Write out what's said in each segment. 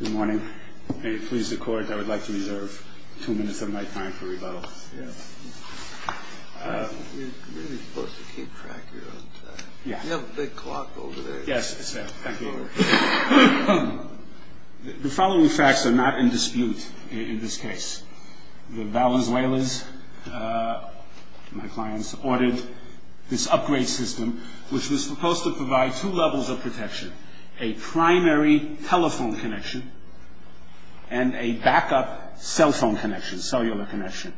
Good morning. May it please the Court, I would like to reserve two minutes of my time for rebuttal. You're really supposed to keep track of your own time. You have a big clock over there. Yes, sir. Thank you. The following facts are not in dispute in this case. The Valenzuelans, my clients, ordered this upgrade system, which was supposed to provide two levels of protection. A primary telephone connection and a backup cell phone connection, cellular connection.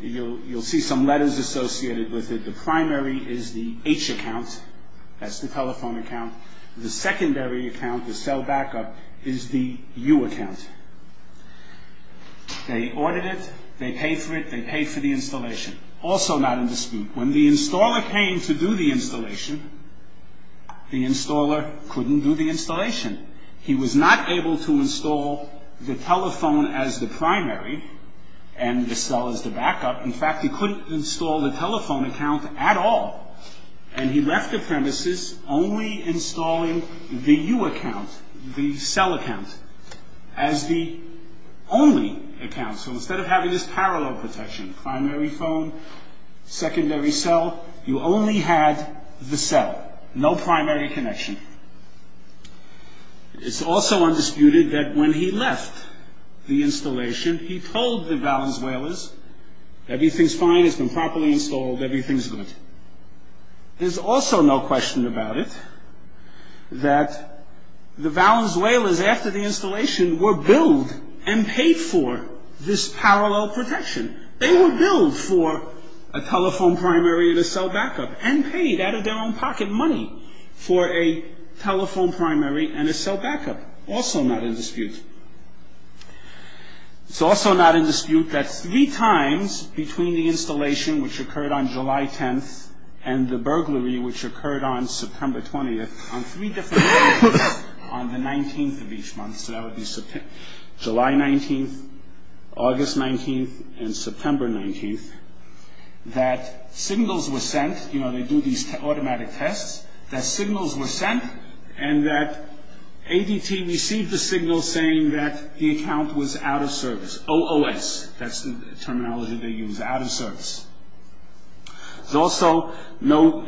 You'll see some letters associated with it. The primary is the H account, that's the telephone account. The secondary account, the cell backup, is the U account. They ordered it, they paid for it, they paid for the installation. Also not in dispute. When the installer came to do the installation, the installer couldn't do the installation. He was not able to install the telephone as the primary and the cell as the backup. In fact, he couldn't install the telephone account at all. And he left the premises only installing the U account, the cell account, as the only account. So instead of having this parallel protection, primary phone, secondary cell, you only had the cell. No primary connection. It's also undisputed that when he left the installation, he told the Valenzuelans, everything's fine, it's been properly installed, everything's good. There's also no question about it that the Valenzuelans, after the installation, were billed and paid for this parallel protection. They were billed for a telephone primary and a cell backup and paid out of their own pocket money for a telephone primary and a cell backup. Also not in dispute. It's also not in dispute that three times between the installation, which occurred on July 10th, and the burglary, which occurred on September 20th, on three different days, on the 19th of each month, so that would be July 19th, August 19th, and September 19th, that signals were sent, you know, they do these automatic tests, that signals were sent and that ADT received the signal saying that the account was out of service. OOS, that's the terminology they use, out of service. There's also no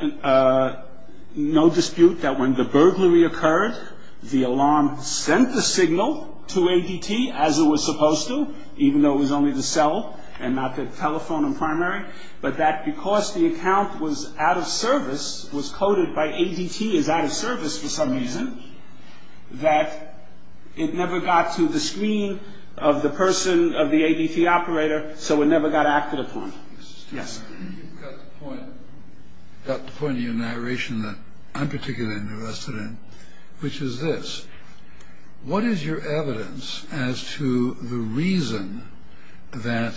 dispute that when the burglary occurred, the alarm sent the signal to ADT as it was supposed to, even though it was only the cell and not the telephone and primary, but that because the account was out of service, was coded by ADT as out of service for some reason, that it never got to the screen of the person, of the ADT operator, so it never got acted upon. Yes. You've got the point of your narration that I'm particularly interested in, which is this. What is your evidence as to the reason that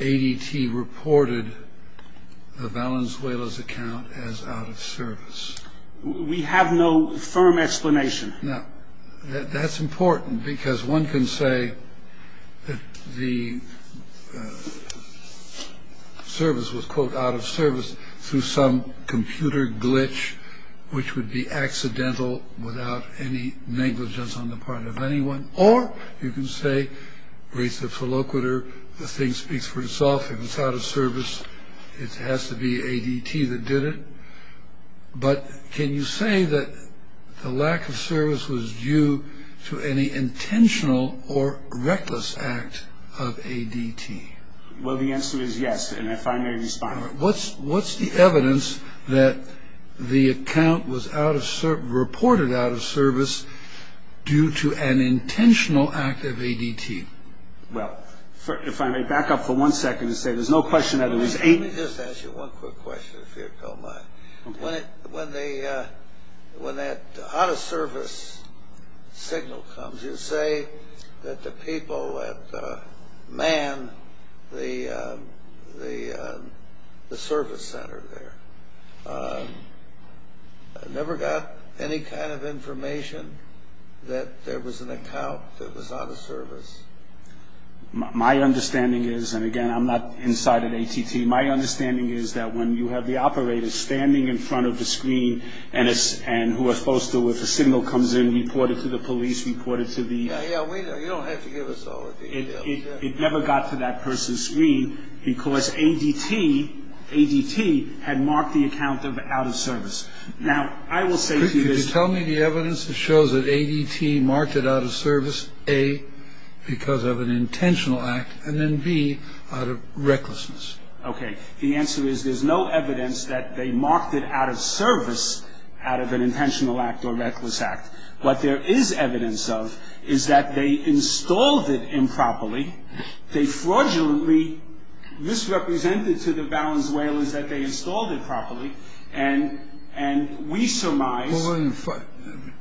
ADT reported the Valenzuela's account as out of service? We have no firm explanation. No. That's important because one can say that the service was, quote, through some computer glitch, which would be accidental, without any negligence on the part of anyone, or you can say, raise the felociter, the thing speaks for itself, if it's out of service, it has to be ADT that did it, but can you say that the lack of service was due to any intentional or reckless act of ADT? Well, the answer is yes, and if I may respond. What's the evidence that the account was reported out of service due to an intentional act of ADT? Well, if I may back up for one second and say there's no question that it was ADT. Let me just ask you one quick question, if you don't mind. When that out of service signal comes, did you say that the people at MAN, the service center there, never got any kind of information that there was an account that was out of service? My understanding is, and again, I'm not inside of ADT, my understanding is that when you have the operators standing in front of the screen and who are supposed to, if a signal comes in, report it to the police, report it to the... Yeah, yeah, you don't have to give us all the details. It never got to that person's screen because ADT had marked the account out of service. Now, I will say to you this... Could you tell me the evidence that shows that ADT marked it out of service, A, because of an intentional act, and then B, out of recklessness? Okay, the answer is there's no evidence that they marked it out of service, out of an intentional act or reckless act. What there is evidence of is that they installed it improperly, they fraudulently misrepresented to the valance whalers that they installed it properly, and we surmise...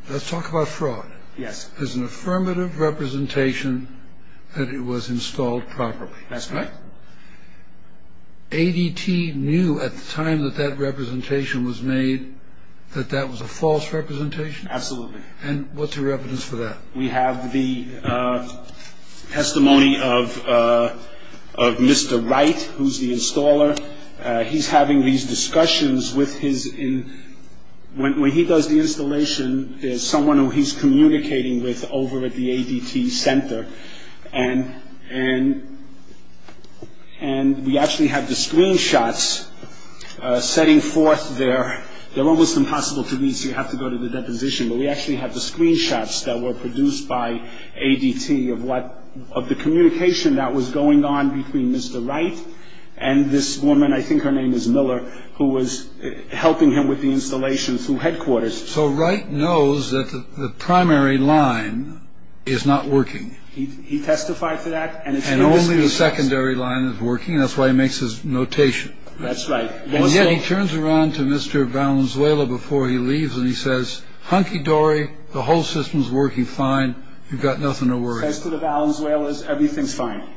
Let's talk about fraud. Yes. There's an affirmative representation that it was installed properly. That's correct. ADT knew at the time that that representation was made that that was a false representation? Absolutely. And what's your evidence for that? We have the testimony of Mr. Wright, who's the installer. He's having these discussions with his... When he does the installation, there's someone who he's communicating with over at the ADT center, and we actually have the screenshots setting forth their... They're almost impossible to read, so you have to go to the deposition, but we actually have the screenshots that were produced by ADT of the communication that was going on between Mr. Wright and this woman, I think her name is Miller, who was helping him with the installation through headquarters. So Wright knows that the primary line is not working. He testified to that, and it's... And only the secondary line is working, and that's why he makes his notation. That's right. And yet he turns around to Mr. Valenzuela before he leaves, and he says, Hunky-dory, the whole system's working fine. You've got nothing to worry about. He says to the valance whalers, everything's fine.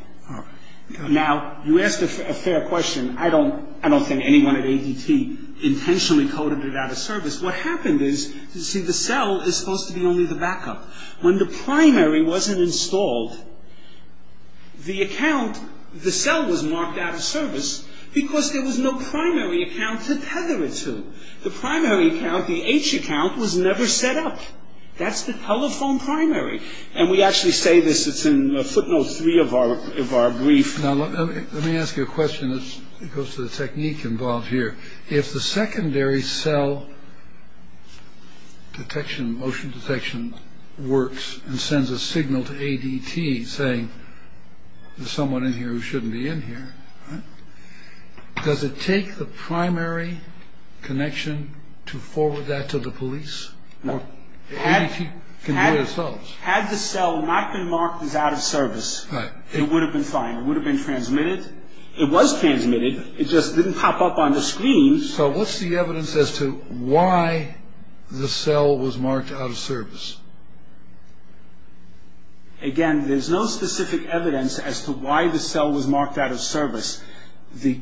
Now, you asked a fair question. I don't think anyone at ADT intentionally coded it out of service. What happened is, you see, the cell is supposed to be only the backup. When the primary wasn't installed, the account, the cell was marked out of service because there was no primary account to tether it to. The primary account, the H account, was never set up. That's the telephone primary, and we actually say this. It's in footnotes three of our brief. Now, let me ask you a question that goes to the technique involved here. If the secondary cell detection, motion detection works and sends a signal to ADT saying there's someone in here who shouldn't be in here, does it take the primary connection to forward that to the police? ADT can do it themselves. Had the cell not been marked as out of service, it would have been fine. It would have been transmitted. It was transmitted. It just didn't pop up on the screen. So what's the evidence as to why the cell was marked out of service? Again, there's no specific evidence as to why the cell was marked out of service. The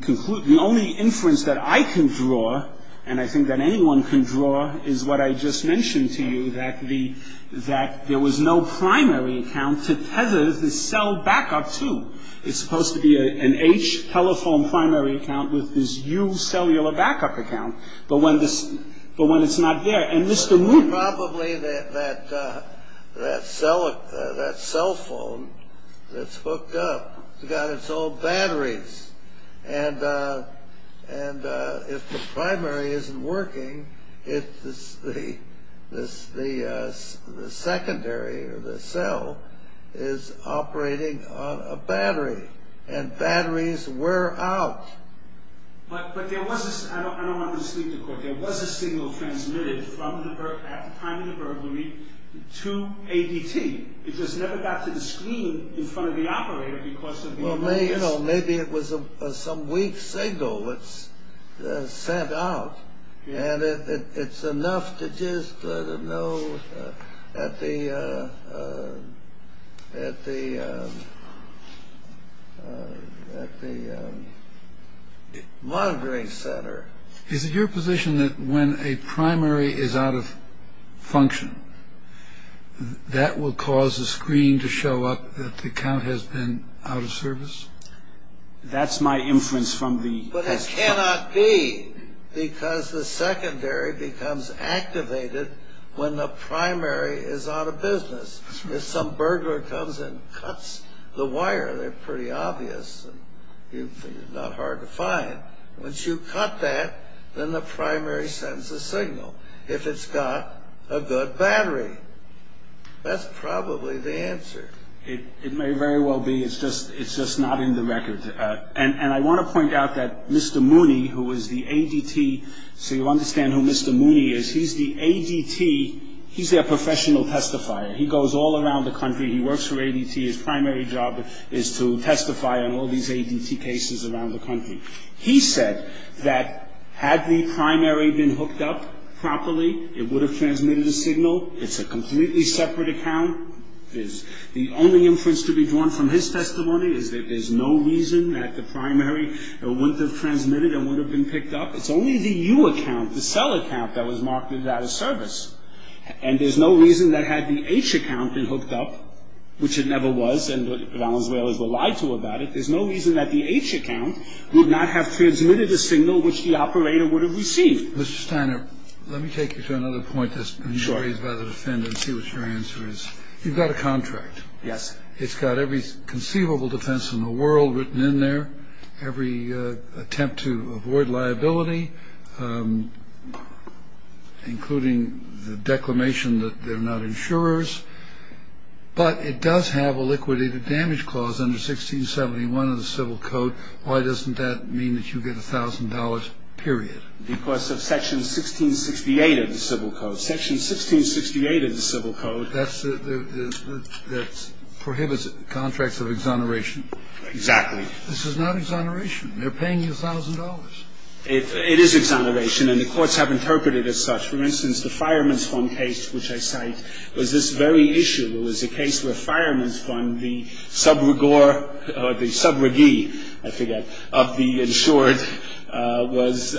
only inference that I can draw, and I think that anyone can draw, is what I just mentioned to you, that there was no primary account to tether the cell backup to. It's supposed to be an H telephone primary account with this U cellular backup account. But when it's not there, and Mr. Moon... Probably that cell phone that's hooked up has got its own batteries. And if the primary isn't working, the secondary, or the cell, is operating on a battery. And batteries were out. But there was a... I don't want to mislead the court. There was a signal transmitted at the time of the burglary to ADT. It just never got to the screen in front of the operator because of the... Well, maybe it was some weak signal that was sent out. And it's enough to just let them know at the monitoring center. Is it your position that when a primary is out of function, that will cause the screen to show up that the account has been out of service? That's my inference from the... But it cannot be because the secondary becomes activated when the primary is out of business. If some burglar comes and cuts the wire, they're pretty obvious. It's not hard to find. Once you cut that, then the primary sends a signal if it's got a good battery. That's probably the answer. It may very well be. It's just not in the record. And I want to point out that Mr. Mooney, who is the ADT... So you understand who Mr. Mooney is. He's the ADT... He's their professional testifier. He goes all around the country. He works for ADT. His primary job is to testify on all these ADT cases around the country. He said that had the primary been hooked up properly, it would have transmitted a signal. It's a completely separate account. The only inference to be drawn from his testimony is that there's no reason that the primary wouldn't have transmitted and would have been picked up. It's only the U account, the cell account, that was marketed out of service. And there's no reason that had the H account been hooked up, which it never was, and Valenzuela's were lied to about it, there's no reason that the H account would not have transmitted a signal which the operator would have received. Mr. Steiner, let me take you to another point that's been raised by the defendant and see what your answer is. You've got a contract. Yes. It's got every conceivable defense in the world written in there, every attempt to avoid liability, including the declamation that they're not insurers. But it does have a liquidated damage clause under 1671 of the Civil Code. Why doesn't that mean that you get $1,000, period? Because of Section 1668 of the Civil Code. Section 1668 of the Civil Code prohibits contracts of exoneration. Exactly. This is not exoneration. They're paying you $1,000. It is exoneration, and the courts have interpreted it as such. For instance, the Fireman's Fund case, which I cite, was this very issue. It was a case where Fireman's Fund, the sub-regor, or the sub-regee, I forget, of the insured, was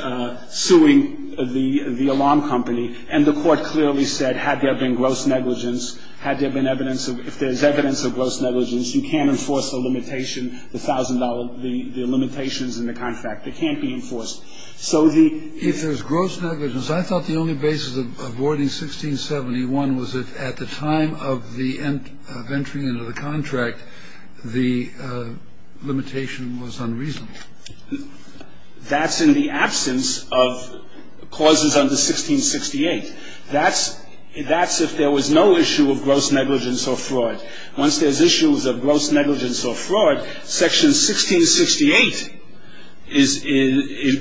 suing the alarm company, and the court clearly said, had there been gross negligence, if there's evidence of gross negligence, you can't enforce the limitation, the $1,000, the limitations in the contract, they can't be enforced. So the ---- If there's gross negligence, I thought the only basis of avoiding 1671 was if at the time of the entering into the contract, the limitation was unreasonable. That's in the absence of clauses under 1668. That's if there was no issue of gross negligence or fraud. Once there's issues of gross negligence or fraud, Section 1668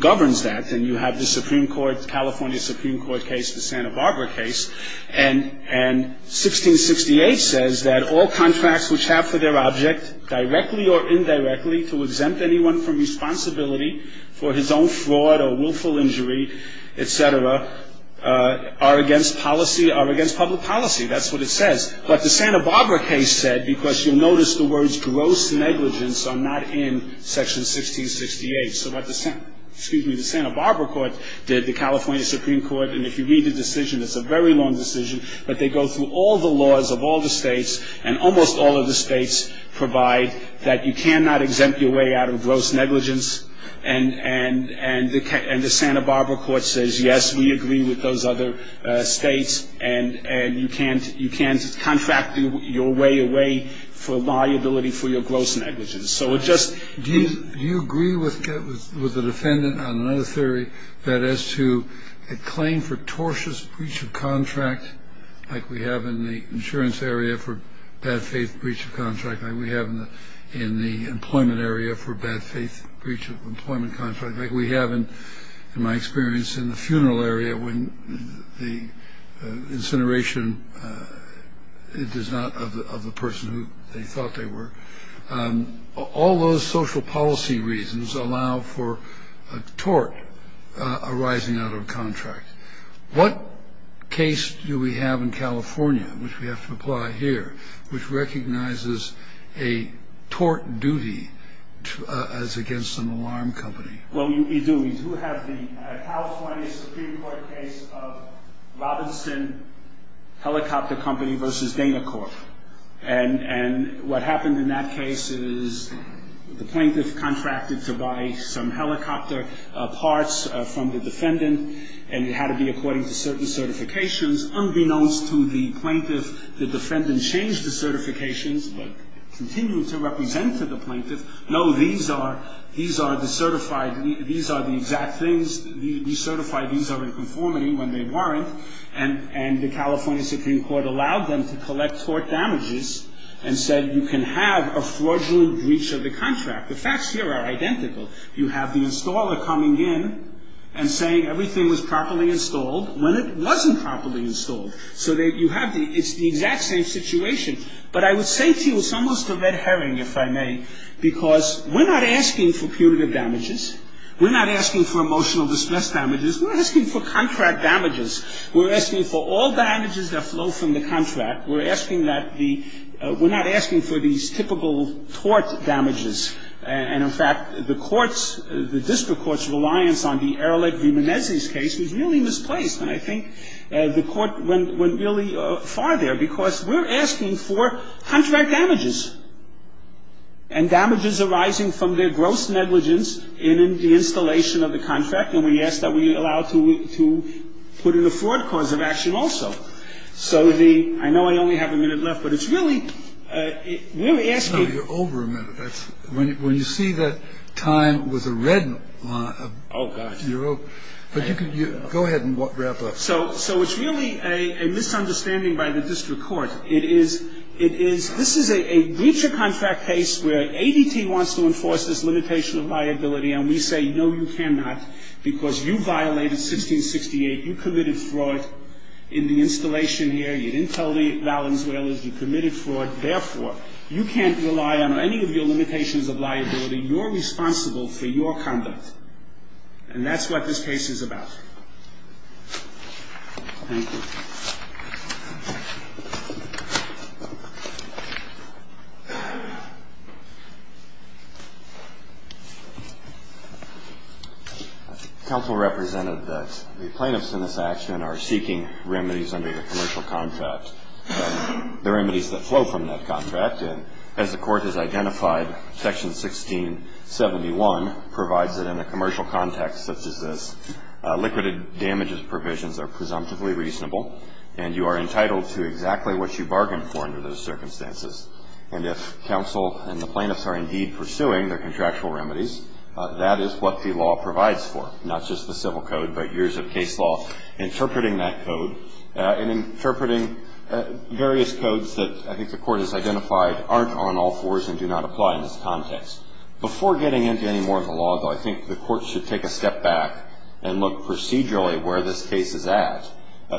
governs that, and you have the California Supreme Court case, the Santa Barbara case, and 1668 says that all contracts which have for their object, directly or indirectly, to exempt anyone from responsibility for his own fraud or willful injury, etc., are against public policy. That's what it says. But the Santa Barbara case said, because you'll notice the words gross negligence are not in Section 1668, so what the Santa Barbara court did, the California Supreme Court, and if you read the decision, it's a very long decision, but they go through all the laws of all the states, and almost all of the states, provide that you cannot exempt your way out of gross negligence, and the Santa Barbara court says, yes, we agree with those other states, and you can't contract your way away for liability for your gross negligence. So it just... Do you agree with the defendant on another theory, that as to a claim for tortious breach of contract, like we have in the insurance area for bad faith breach of contract, like we have in the employment area for bad faith breach of employment contract, like we have, in my experience, in the funeral area, when the incineration is not of the person who they thought they were, all those social policy reasons allow for a tort arising out of a contract. What case do we have in California, which we have to apply here, which recognizes a tort duty as against an alarm company? Well, you do. You do have the California Supreme Court case of Robinson Helicopter Company v. Dana Corp. And what happened in that case is the plaintiff contracted to buy some helicopter parts from the defendant, and it had to be according to certain certifications, unbeknownst to the plaintiff, the defendant changed the certifications, but continued to represent to the plaintiff, no, these are the certified, these are the exact things, you certify these are in conformity when they weren't, and the California Supreme Court allowed them to collect tort damages and said you can have a fraudulent breach of the contract. The facts here are identical. You have the installer coming in and saying everything was properly installed when it wasn't properly installed. So you have the exact same situation. But I would say to you it's almost a red herring, if I may, because we're not asking for punitive damages. We're not asking for emotional distress damages. We're asking for contract damages. We're asking for all damages that flow from the contract. We're asking that the we're not asking for these typical tort damages. And, in fact, the court's, the district court's reliance on the Ehrlich v. Menezes case was really misplaced, and I think the court went really far there because we're asking for contract damages and damages arising from their gross negligence in the installation of the contract, and we ask that we allow to put in a fraud cause of action also. So the, I know I only have a minute left, but it's really, we're asking. No, you're over a minute. When you see the time with the red line. Oh, gosh. You're over. Go ahead and wrap up. So it's really a misunderstanding by the district court. It is, it is, this is a breach of contract case where ADT wants to enforce this limitation of liability, and we say, no, you cannot because you violated 1668. You committed fraud in the installation here. You didn't tell the Valenzuelans. You committed fraud. Therefore, you can't rely on any of your limitations of liability. You're responsible for your conduct, and that's what this case is about. Thank you. Counsel represented that the plaintiffs in this action are seeking remedies under your commercial contract, the remedies that flow from that contract, and as the Court has identified Section 1671 provides it in a commercial context such as this, liquidated damages provisions are presumptively reasonable, and you are entitled to exactly what you bargained for under those circumstances. And if counsel and the plaintiffs are indeed pursuing their contractual remedies, that is what the law provides for, not just the civil code, but years of case law interpreting that code and interpreting various codes that I think the Court has identified aren't on all fours and do not apply in this context. Before getting into any more of the law, though, I think the Court should take a step back and look procedurally where this case is at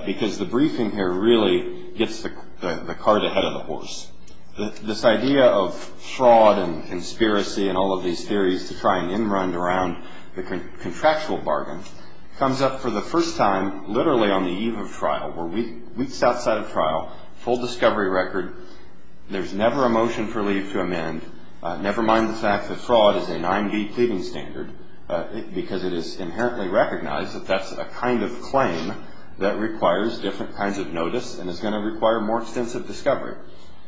because the briefing here really gets the cart ahead of the horse. This idea of fraud and conspiracy and all of these theories to try and in-run around the contractual bargain comes up for the first time literally on the eve of trial, weeks outside of trial, full discovery record. There's never a motion for leave to amend, never mind the fact that fraud is a 9-D pleading standard because it is inherently recognized that that's a kind of claim that requires different kinds of notice and is going to require more extensive discovery.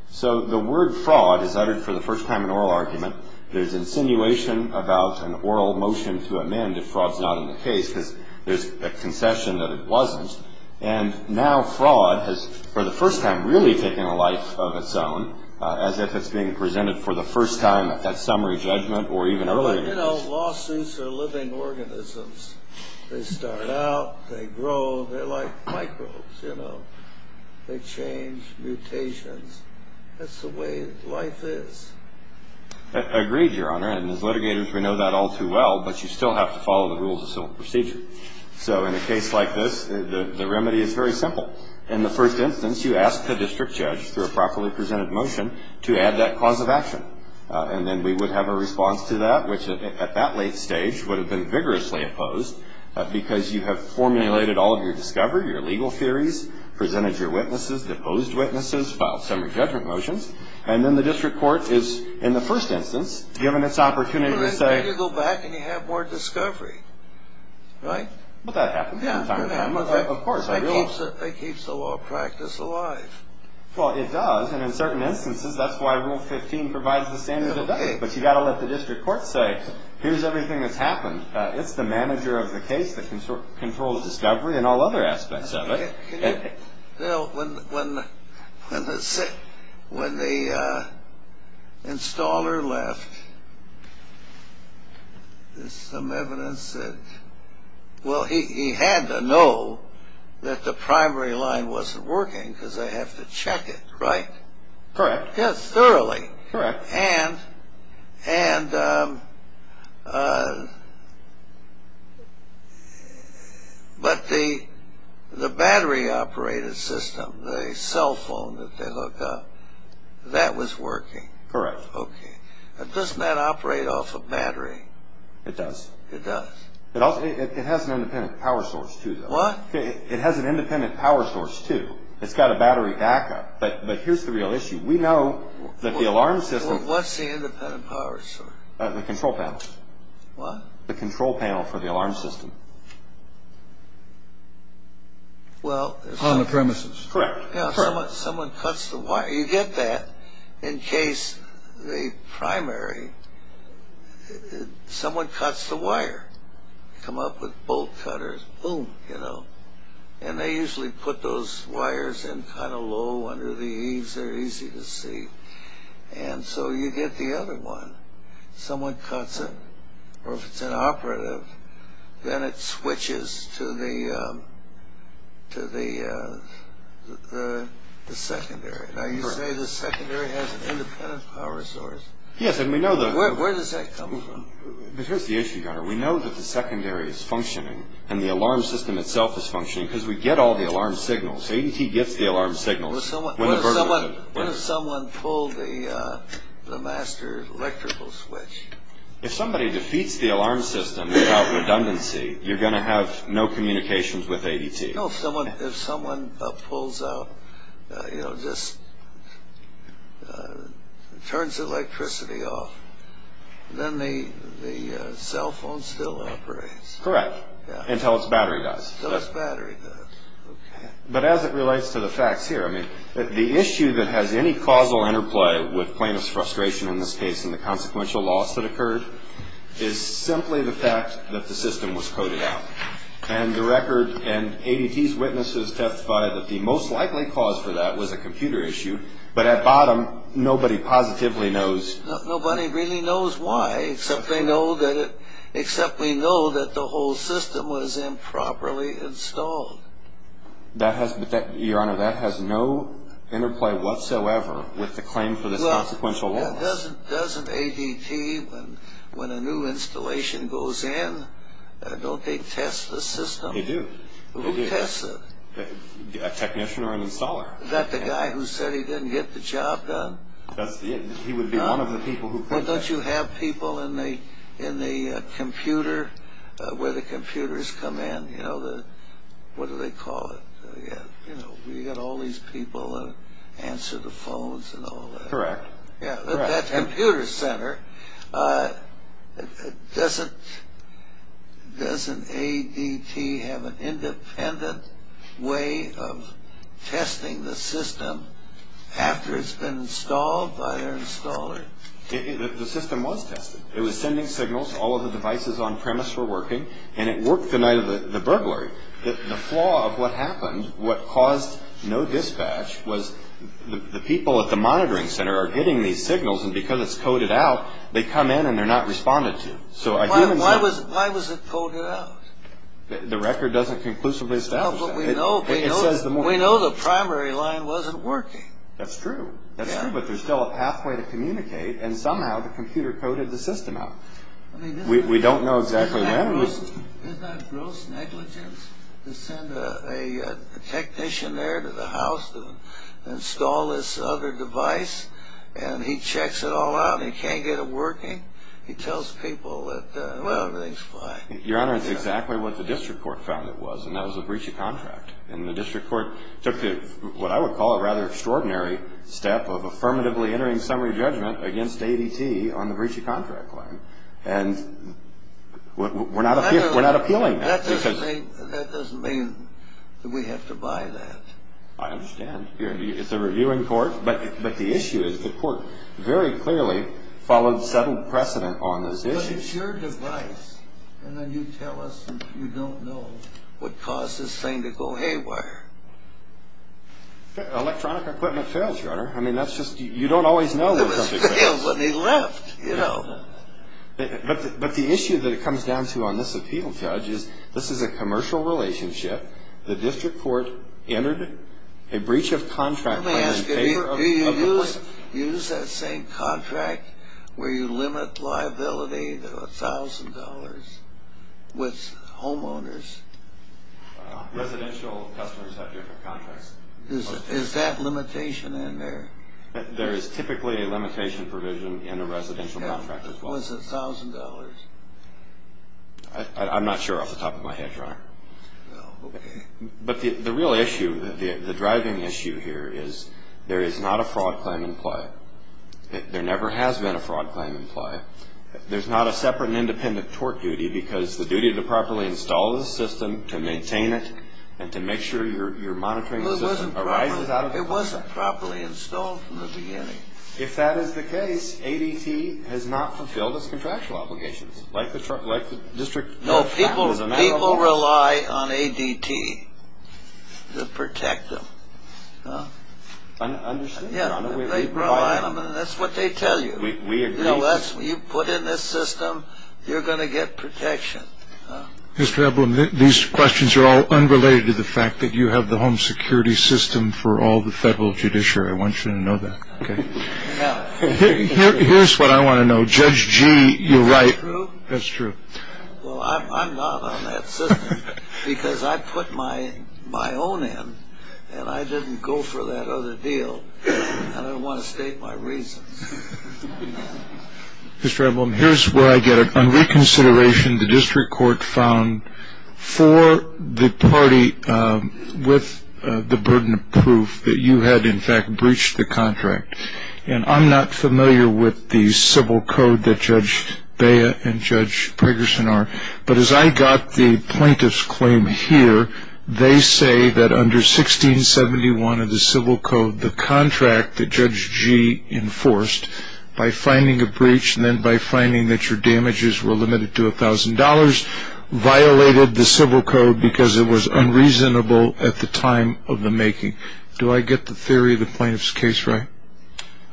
So the word fraud is uttered for the first time in oral argument. There's insinuation about an oral motion to amend if fraud's not in the case because there's a concession that it wasn't. And now fraud has, for the first time, really taken a life of its own, as if it's being presented for the first time at that summary judgment or even earlier. You know, lawsuits are living organisms. They start out, they grow, they're like microbes, you know. They change, mutations. That's the way life is. Agreed, Your Honor, and as litigators we know that all too well, but you still have to follow the rules of civil procedure. So in a case like this, the remedy is very simple. In the first instance, you ask the district judge, through a properly presented motion, to add that cause of action. And then we would have a response to that, which at that late stage would have been vigorously opposed because you have formulated all of your discovery, your legal theories, presented your witnesses, deposed witnesses, filed summary judgment motions, and then the district court is, in the first instance, given its opportunity to say... Then you go back and you have more discovery, right? But that happens from time to time, of course. It keeps the law of practice alive. Well, it does, and in certain instances that's why Rule 15 provides the standard of death. But you've got to let the district court say, here's everything that's happened. It's the manager of the case that controls discovery and all other aspects of it. Bill, when the installer left, there's some evidence that... Well, he had to know that the primary line wasn't working because they have to check it, right? Correct. Thoroughly. Correct. But the battery-operated system, the cell phone that they hooked up, that was working? Correct. Okay. Doesn't that operate off a battery? It does. It does. It has an independent power source, too, though. What? It has an independent power source, too. It's got a battery backup. But here's the real issue. We know that the alarm system... What's the independent power source? The control panel. What? The control panel for the alarm system. On the premises? Correct. Someone cuts the wire. You get that. In case the primary, someone cuts the wire. Come up with bolt cutters, boom, you know. And they usually put those wires in kind of low under the eaves. They're easy to see. And so you get the other one. Someone cuts it, or if it's inoperative, then it switches to the secondary. Now, you say the secondary has an independent power source. Yes, and we know the... Where does that come from? But here's the issue, Gunnar. We know that the secondary is functioning and the alarm system itself is functioning because we get all the alarm signals. ADT gets the alarm signals. What if someone pulled the master electrical switch? If somebody defeats the alarm system without redundancy, you're going to have no communications with ADT. You know, if someone pulls out, you know, just turns electricity off, then the cell phone still operates. Correct, until its battery dies. Until its battery dies, okay. But as it relates to the facts here, I mean, the issue that has any causal interplay with plaintiff's frustration in this case and the consequential loss that occurred is simply the fact that the system was coded out. And the record and ADT's witnesses testified that the most likely cause for that was a computer issue. But at bottom, nobody positively knows. Nobody really knows why, except they know that the whole system was improperly installed. Your Honor, that has no interplay whatsoever with the claim for the consequential loss. Doesn't ADT, when a new installation goes in, don't they test the system? They do. Who tests it? A technician or an installer. Is that the guy who said he didn't get the job done? He would be one of the people who thinks that. Well, don't you have people in the computer, where the computers come in, you know, what do they call it? You know, you've got all these people that answer the phones and all that. Correct. At that computer center, doesn't ADT have an independent way of testing the system after it's been installed by their installer? The system was tested. It was sending signals, all of the devices on premise were working, and it worked the night of the burglary. The flaw of what happened, what caused no dispatch, was the people at the monitoring center are getting these signals, and because it's coded out, they come in and they're not responded to. Why was it coded out? The record doesn't conclusively establish that. We know the primary line wasn't working. That's true. That's true, but there's still a pathway to communicate, and somehow the computer coded the system out. We don't know exactly when. Isn't that gross negligence to send a technician there to the house to install this other device, and he checks it all out and he can't get it working? He tells people that, well, everything's fine. Your Honor, it's exactly what the district court found it was, and that was a breach of contract. And the district court took what I would call a rather extraordinary step of affirmatively entering summary judgment against ADT on the breach of contract line, and we're not appealing that. That doesn't mean that we have to buy that. I understand. It's a reviewing court, but the issue is the court very clearly followed settled precedent on this issue. But it's your device, and then you tell us that you don't know what caused this thing to go haywire. Electronic equipment fails, Your Honor. I mean, that's just you don't always know when something fails. It was failed when he left, you know. But the issue that it comes down to on this appeal, Judge, is this is a commercial relationship. The district court entered a breach of contract. Let me ask you, do you use that same contract where you limit liability to $1,000 with homeowners? Residential customers have different contracts. Is that limitation in there? There is typically a limitation provision in a residential contract as well. Was it $1,000? I'm not sure off the top of my head, Your Honor. No. But the real issue, the driving issue here is there is not a fraud claim in play. There never has been a fraud claim in play. There's not a separate and independent tort duty because the duty to properly install the system, to maintain it, and to make sure you're monitoring the system arises out of it. It wasn't properly installed from the beginning. If that is the case, ADT has not fulfilled its contractual obligations like the district court found was available. No, people rely on ADT to protect them. I understand, Your Honor. They rely on them, and that's what they tell you. We agree. You know, you put in this system, you're going to get protection. Mr. Eblem, these questions are all unrelated to the fact that you have the home security system for all the federal judiciary. I want you to know that. Here's what I want to know. Judge G, you're right. That's true. Well, I'm not on that system because I put my own in, and I didn't go for that other deal, and I don't want to state my reasons. Mr. Eblem, here's where I get it. On reconsideration, the district court found for the party with the burden of proof that you had, in fact, breached the contract, and I'm not familiar with the civil code that Judge Bea and Judge Preggerson are, but as I got the plaintiff's claim here, they say that under 1671 of the civil code, the contract that Judge G enforced by finding a breach and then by finding that your damages were limited to $1,000 violated the civil code because it was unreasonable at the time of the making. Do I get the theory of the plaintiff's case right?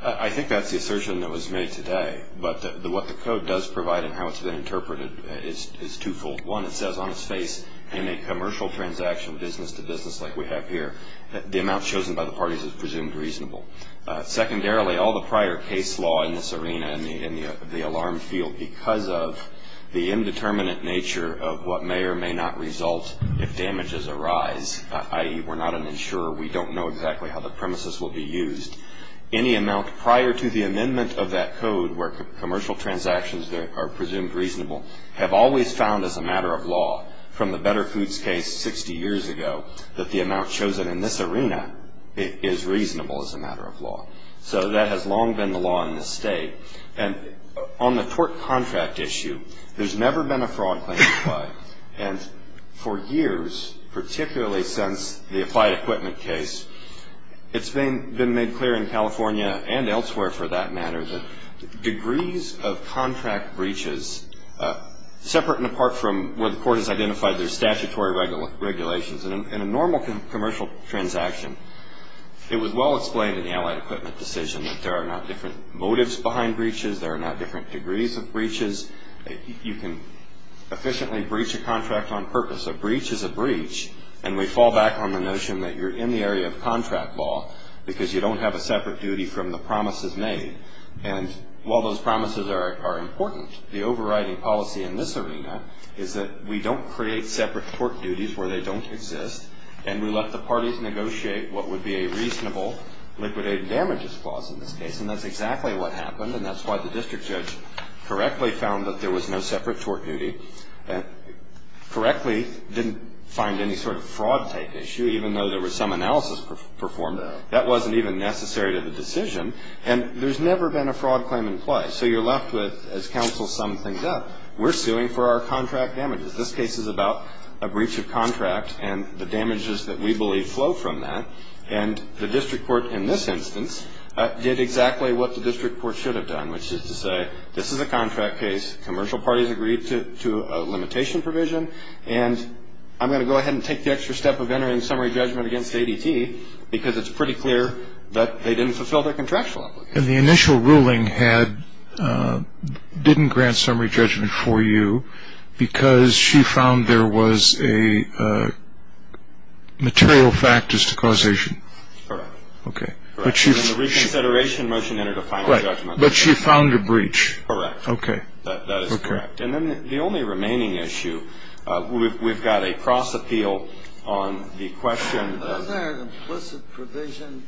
I think that's the assertion that was made today, but what the code does provide and how it's been interpreted is twofold. One, it says on its face, in a commercial transaction, business to business like we have here, the amount chosen by the parties is presumed reasonable. Secondarily, all the prior case law in this arena, in the alarm field, because of the indeterminate nature of what may or may not result if damages arise, i.e., we're not an insurer, we don't know exactly how the premises will be used, any amount prior to the amendment of that code where commercial transactions are presumed reasonable have always found as a matter of law from the Better Foods case 60 years ago that the amount chosen in this arena is reasonable as a matter of law. So that has long been the law in this state. And on the tort contract issue, there's never been a fraud claim applied. And for years, particularly since the applied equipment case, it's been made clear in California and elsewhere for that matter that degrees of contract breaches, separate and apart from where the court has identified their statutory regulations in a normal commercial transaction, it was well explained in the allied equipment decision that there are not different motives behind breaches. There are not different degrees of breaches. You can efficiently breach a contract on purpose. A breach is a breach, and we fall back on the notion that you're in the area of contract law because you don't have a separate duty from the promises made. And while those promises are important, the overriding policy in this arena is that we don't create separate tort duties where they don't exist, and we let the parties negotiate what would be a reasonable liquidated damages clause in this case. And that's exactly what happened, and that's why the district judge correctly found that there was no separate tort duty, correctly didn't find any sort of fraud type issue even though there was some analysis performed. That wasn't even necessary to the decision. And there's never been a fraud claim in place. So you're left with, as counsel summed things up, we're suing for our contract damages. This case is about a breach of contract and the damages that we believe flow from that, and the district court in this instance did exactly what the district court should have done, which is to say this is a contract case, commercial parties agreed to a limitation provision, and I'm going to go ahead and take the extra step of entering summary judgment against ADT because it's pretty clear that they didn't fulfill their contractual obligations. And the initial ruling didn't grant summary judgment for you because she found there was a material factors to causation. Correct. Okay. And then the reconsideration motion entered a final judgment. Right. But she found a breach. Correct. Okay. That is correct. And then the only remaining issue, we've got a cross appeal on the question. Wasn't there an implicit provision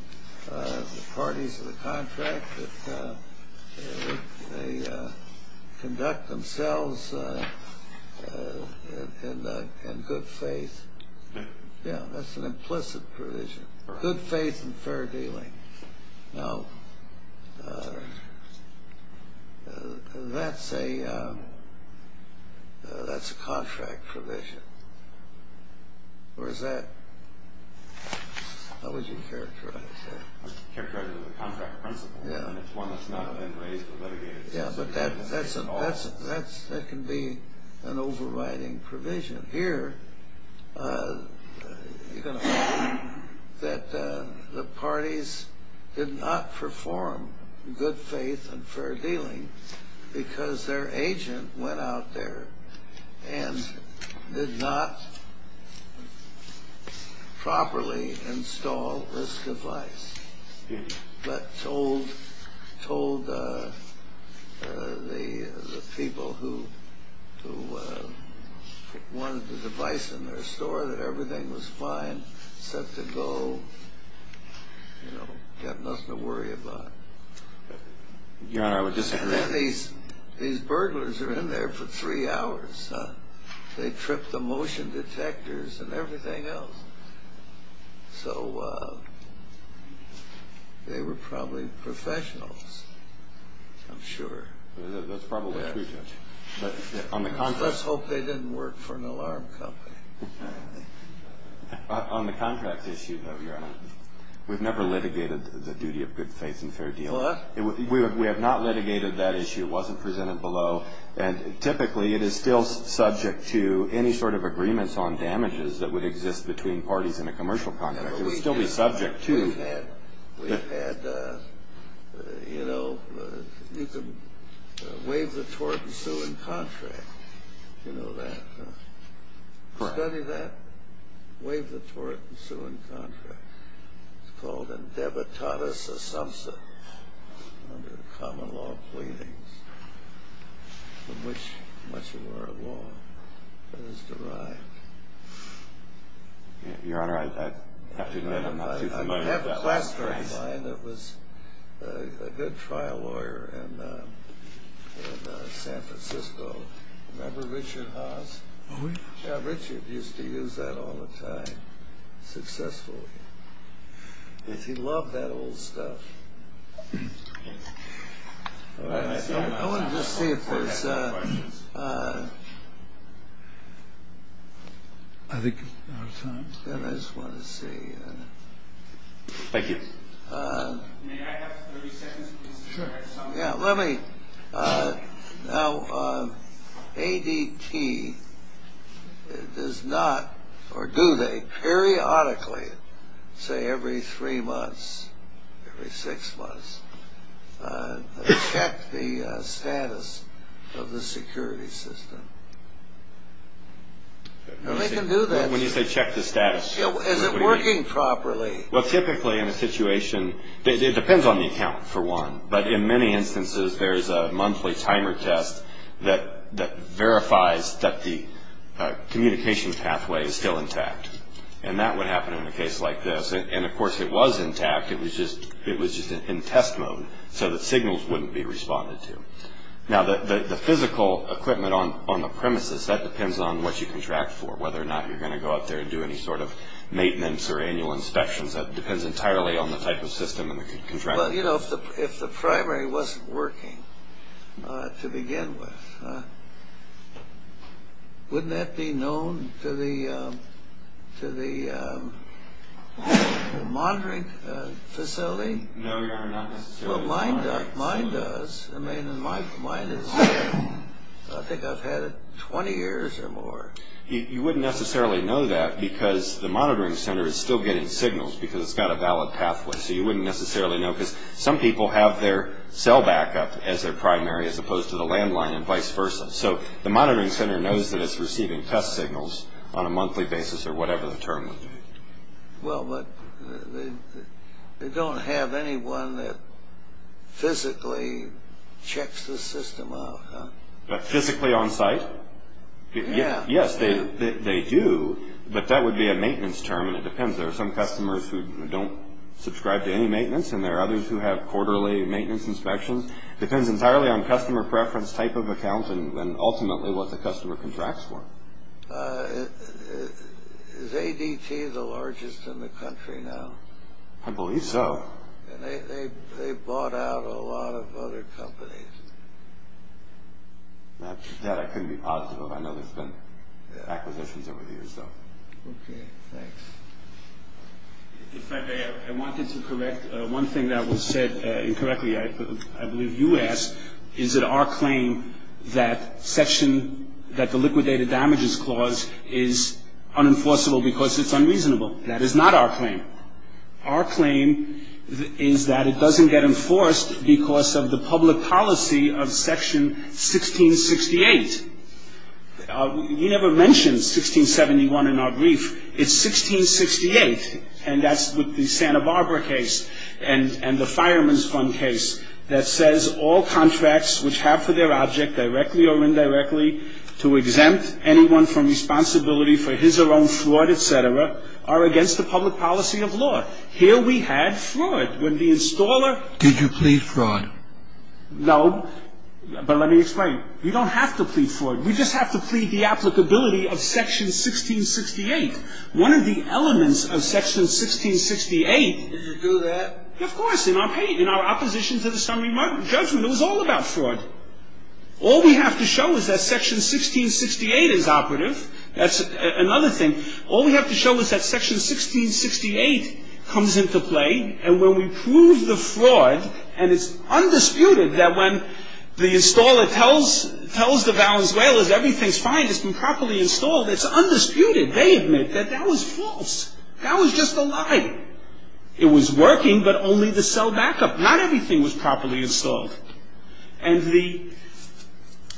in the parties of the contract that they conduct themselves in good faith? Yeah, that's an implicit provision. Good faith and fair dealing. Now, that's a contract provision. Or is that? How would you characterize that? I would characterize it as a contract principle. Yeah. And it's one that's not been raised or litigated. Yeah, but that can be an overriding provision. Here, you're going to find that the parties did not perform good faith and fair dealing because their agent went out there and did not properly install this device but told the people who wanted the device in their store that everything was fine, set to go, you know, got nothing to worry about. Your Honor, I would disagree. And then these burglars are in there for three hours. They tripped the motion detectors and everything else. So they were probably professionals, I'm sure. That's probably true, Judge. Let's hope they didn't work for an alarm company. On the contract issue, though, Your Honor, we've never litigated the duty of good faith and fair dealing. What? We have not litigated that issue. It wasn't presented below. And typically it is still subject to any sort of agreements on damages that would exist between parties in a commercial contract. It would still be subject to. We've had, you know, you can waive the tort and sue in contract. You know that? Correct. Waive the tort and sue in contract. It's called Endebitadas Assumpta under the common law pleadings in which much of our law is derived. Your Honor, I have to admit I'm not too familiar with that last phrase. I have a classmate of mine that was a good trial lawyer in San Francisco. Remember Richard Haas? Who? Yeah, Richard used to use that all the time successfully. He loved that old stuff. I want to just see if there's... I think we're out of time. Yeah, I just want to see. Thank you. May I have 30 seconds, please? Sure. Yeah, let me... Now, ADT does not, or do they periodically, say every three months, every six months, check the status of the security system? They can do that. When you say check the status... Is it working properly? Well, typically in a situation... It depends on the account, for one. But in many instances, there's a monthly timer test that verifies that the communication pathway is still intact. And that would happen in a case like this. And, of course, it was intact. It was just in test mode so that signals wouldn't be responded to. Now, the physical equipment on the premises, that depends on what you contract for, whether or not you're going to go up there and do any sort of maintenance or annual inspections. That depends entirely on the type of system and the contract. But, you know, if the primary wasn't working, to begin with, wouldn't that be known to the monitoring facility? No, Your Honor, not necessarily to the monitoring facility. Well, mine does. I mean, mine is... I think I've had it 20 years or more. You wouldn't necessarily know that because the monitoring center is still getting signals because it's got a valid pathway. So you wouldn't necessarily know. Because some people have their cell backup as their primary as opposed to the landline and vice versa. So the monitoring center knows that it's receiving test signals on a monthly basis or whatever the term would be. Well, but they don't have anyone that physically checks the system out, huh? Physically on site? Yeah. Yes, they do. But that would be a maintenance term, and it depends. There are some customers who don't subscribe to any maintenance, and there are others who have quarterly maintenance inspections. It depends entirely on customer preference, type of account, and ultimately what the customer contracts for. Is ADT the largest in the country now? I believe so. They bought out a lot of other companies. That I couldn't be positive of. I know there's been acquisitions over the years, though. Okay. Thanks. If I may, I wanted to correct one thing that was said incorrectly. I believe you asked, is it our claim that the liquidated damages clause is unenforceable because it's unreasonable? That is not our claim. Our claim is that it doesn't get enforced because of the public policy of Section 1668. You never mentioned 1671 in our brief. It's 1668, and that's with the Santa Barbara case and the Fireman's Fund case, that says all contracts which have for their object, directly or indirectly, to exempt anyone from responsibility for his or her own fraud, et cetera, are against the public policy of law. Here we had fraud. When the installer – Did you plead fraud? No, but let me explain. We don't have to plead fraud. We just have to plead the applicability of Section 1668. One of the elements of Section 1668 – Did you do that? Of course. In our opposition to the summary judgment, it was all about fraud. All we have to show is that Section 1668 is operative. That's another thing. All we have to show is that Section 1668 comes into play, and when we prove the fraud, and it's undisputed that when the installer tells the Valenzuelans everything's fine, it's been properly installed, it's undisputed. They admit that that was false. That was just a lie. It was working, but only to sell backup. Not everything was properly installed. And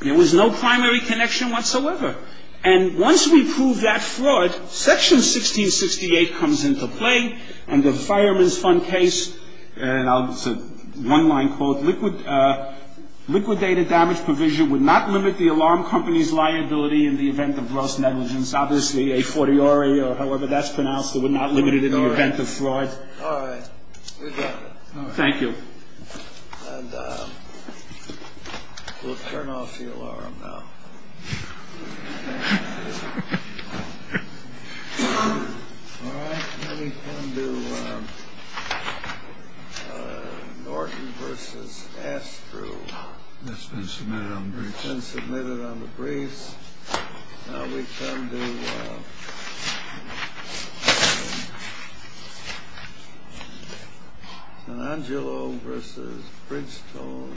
there was no primary connection whatsoever. And once we prove that fraud, Section 1668 comes into play, and the Fireman's Fund case – and it's a one-line quote – liquidated damage provision would not limit the alarm company's liability in the event of gross negligence. Obviously, a fortiori or however that's pronounced, it would not limit it in the event of fraud. All right. We're done. Thank you. And we'll turn off the alarm now. All right. Let me come to Norton v. Astru. That's been submitted on the briefs. It's been submitted on the briefs. Now we come to San Angelo v. Bridgestone.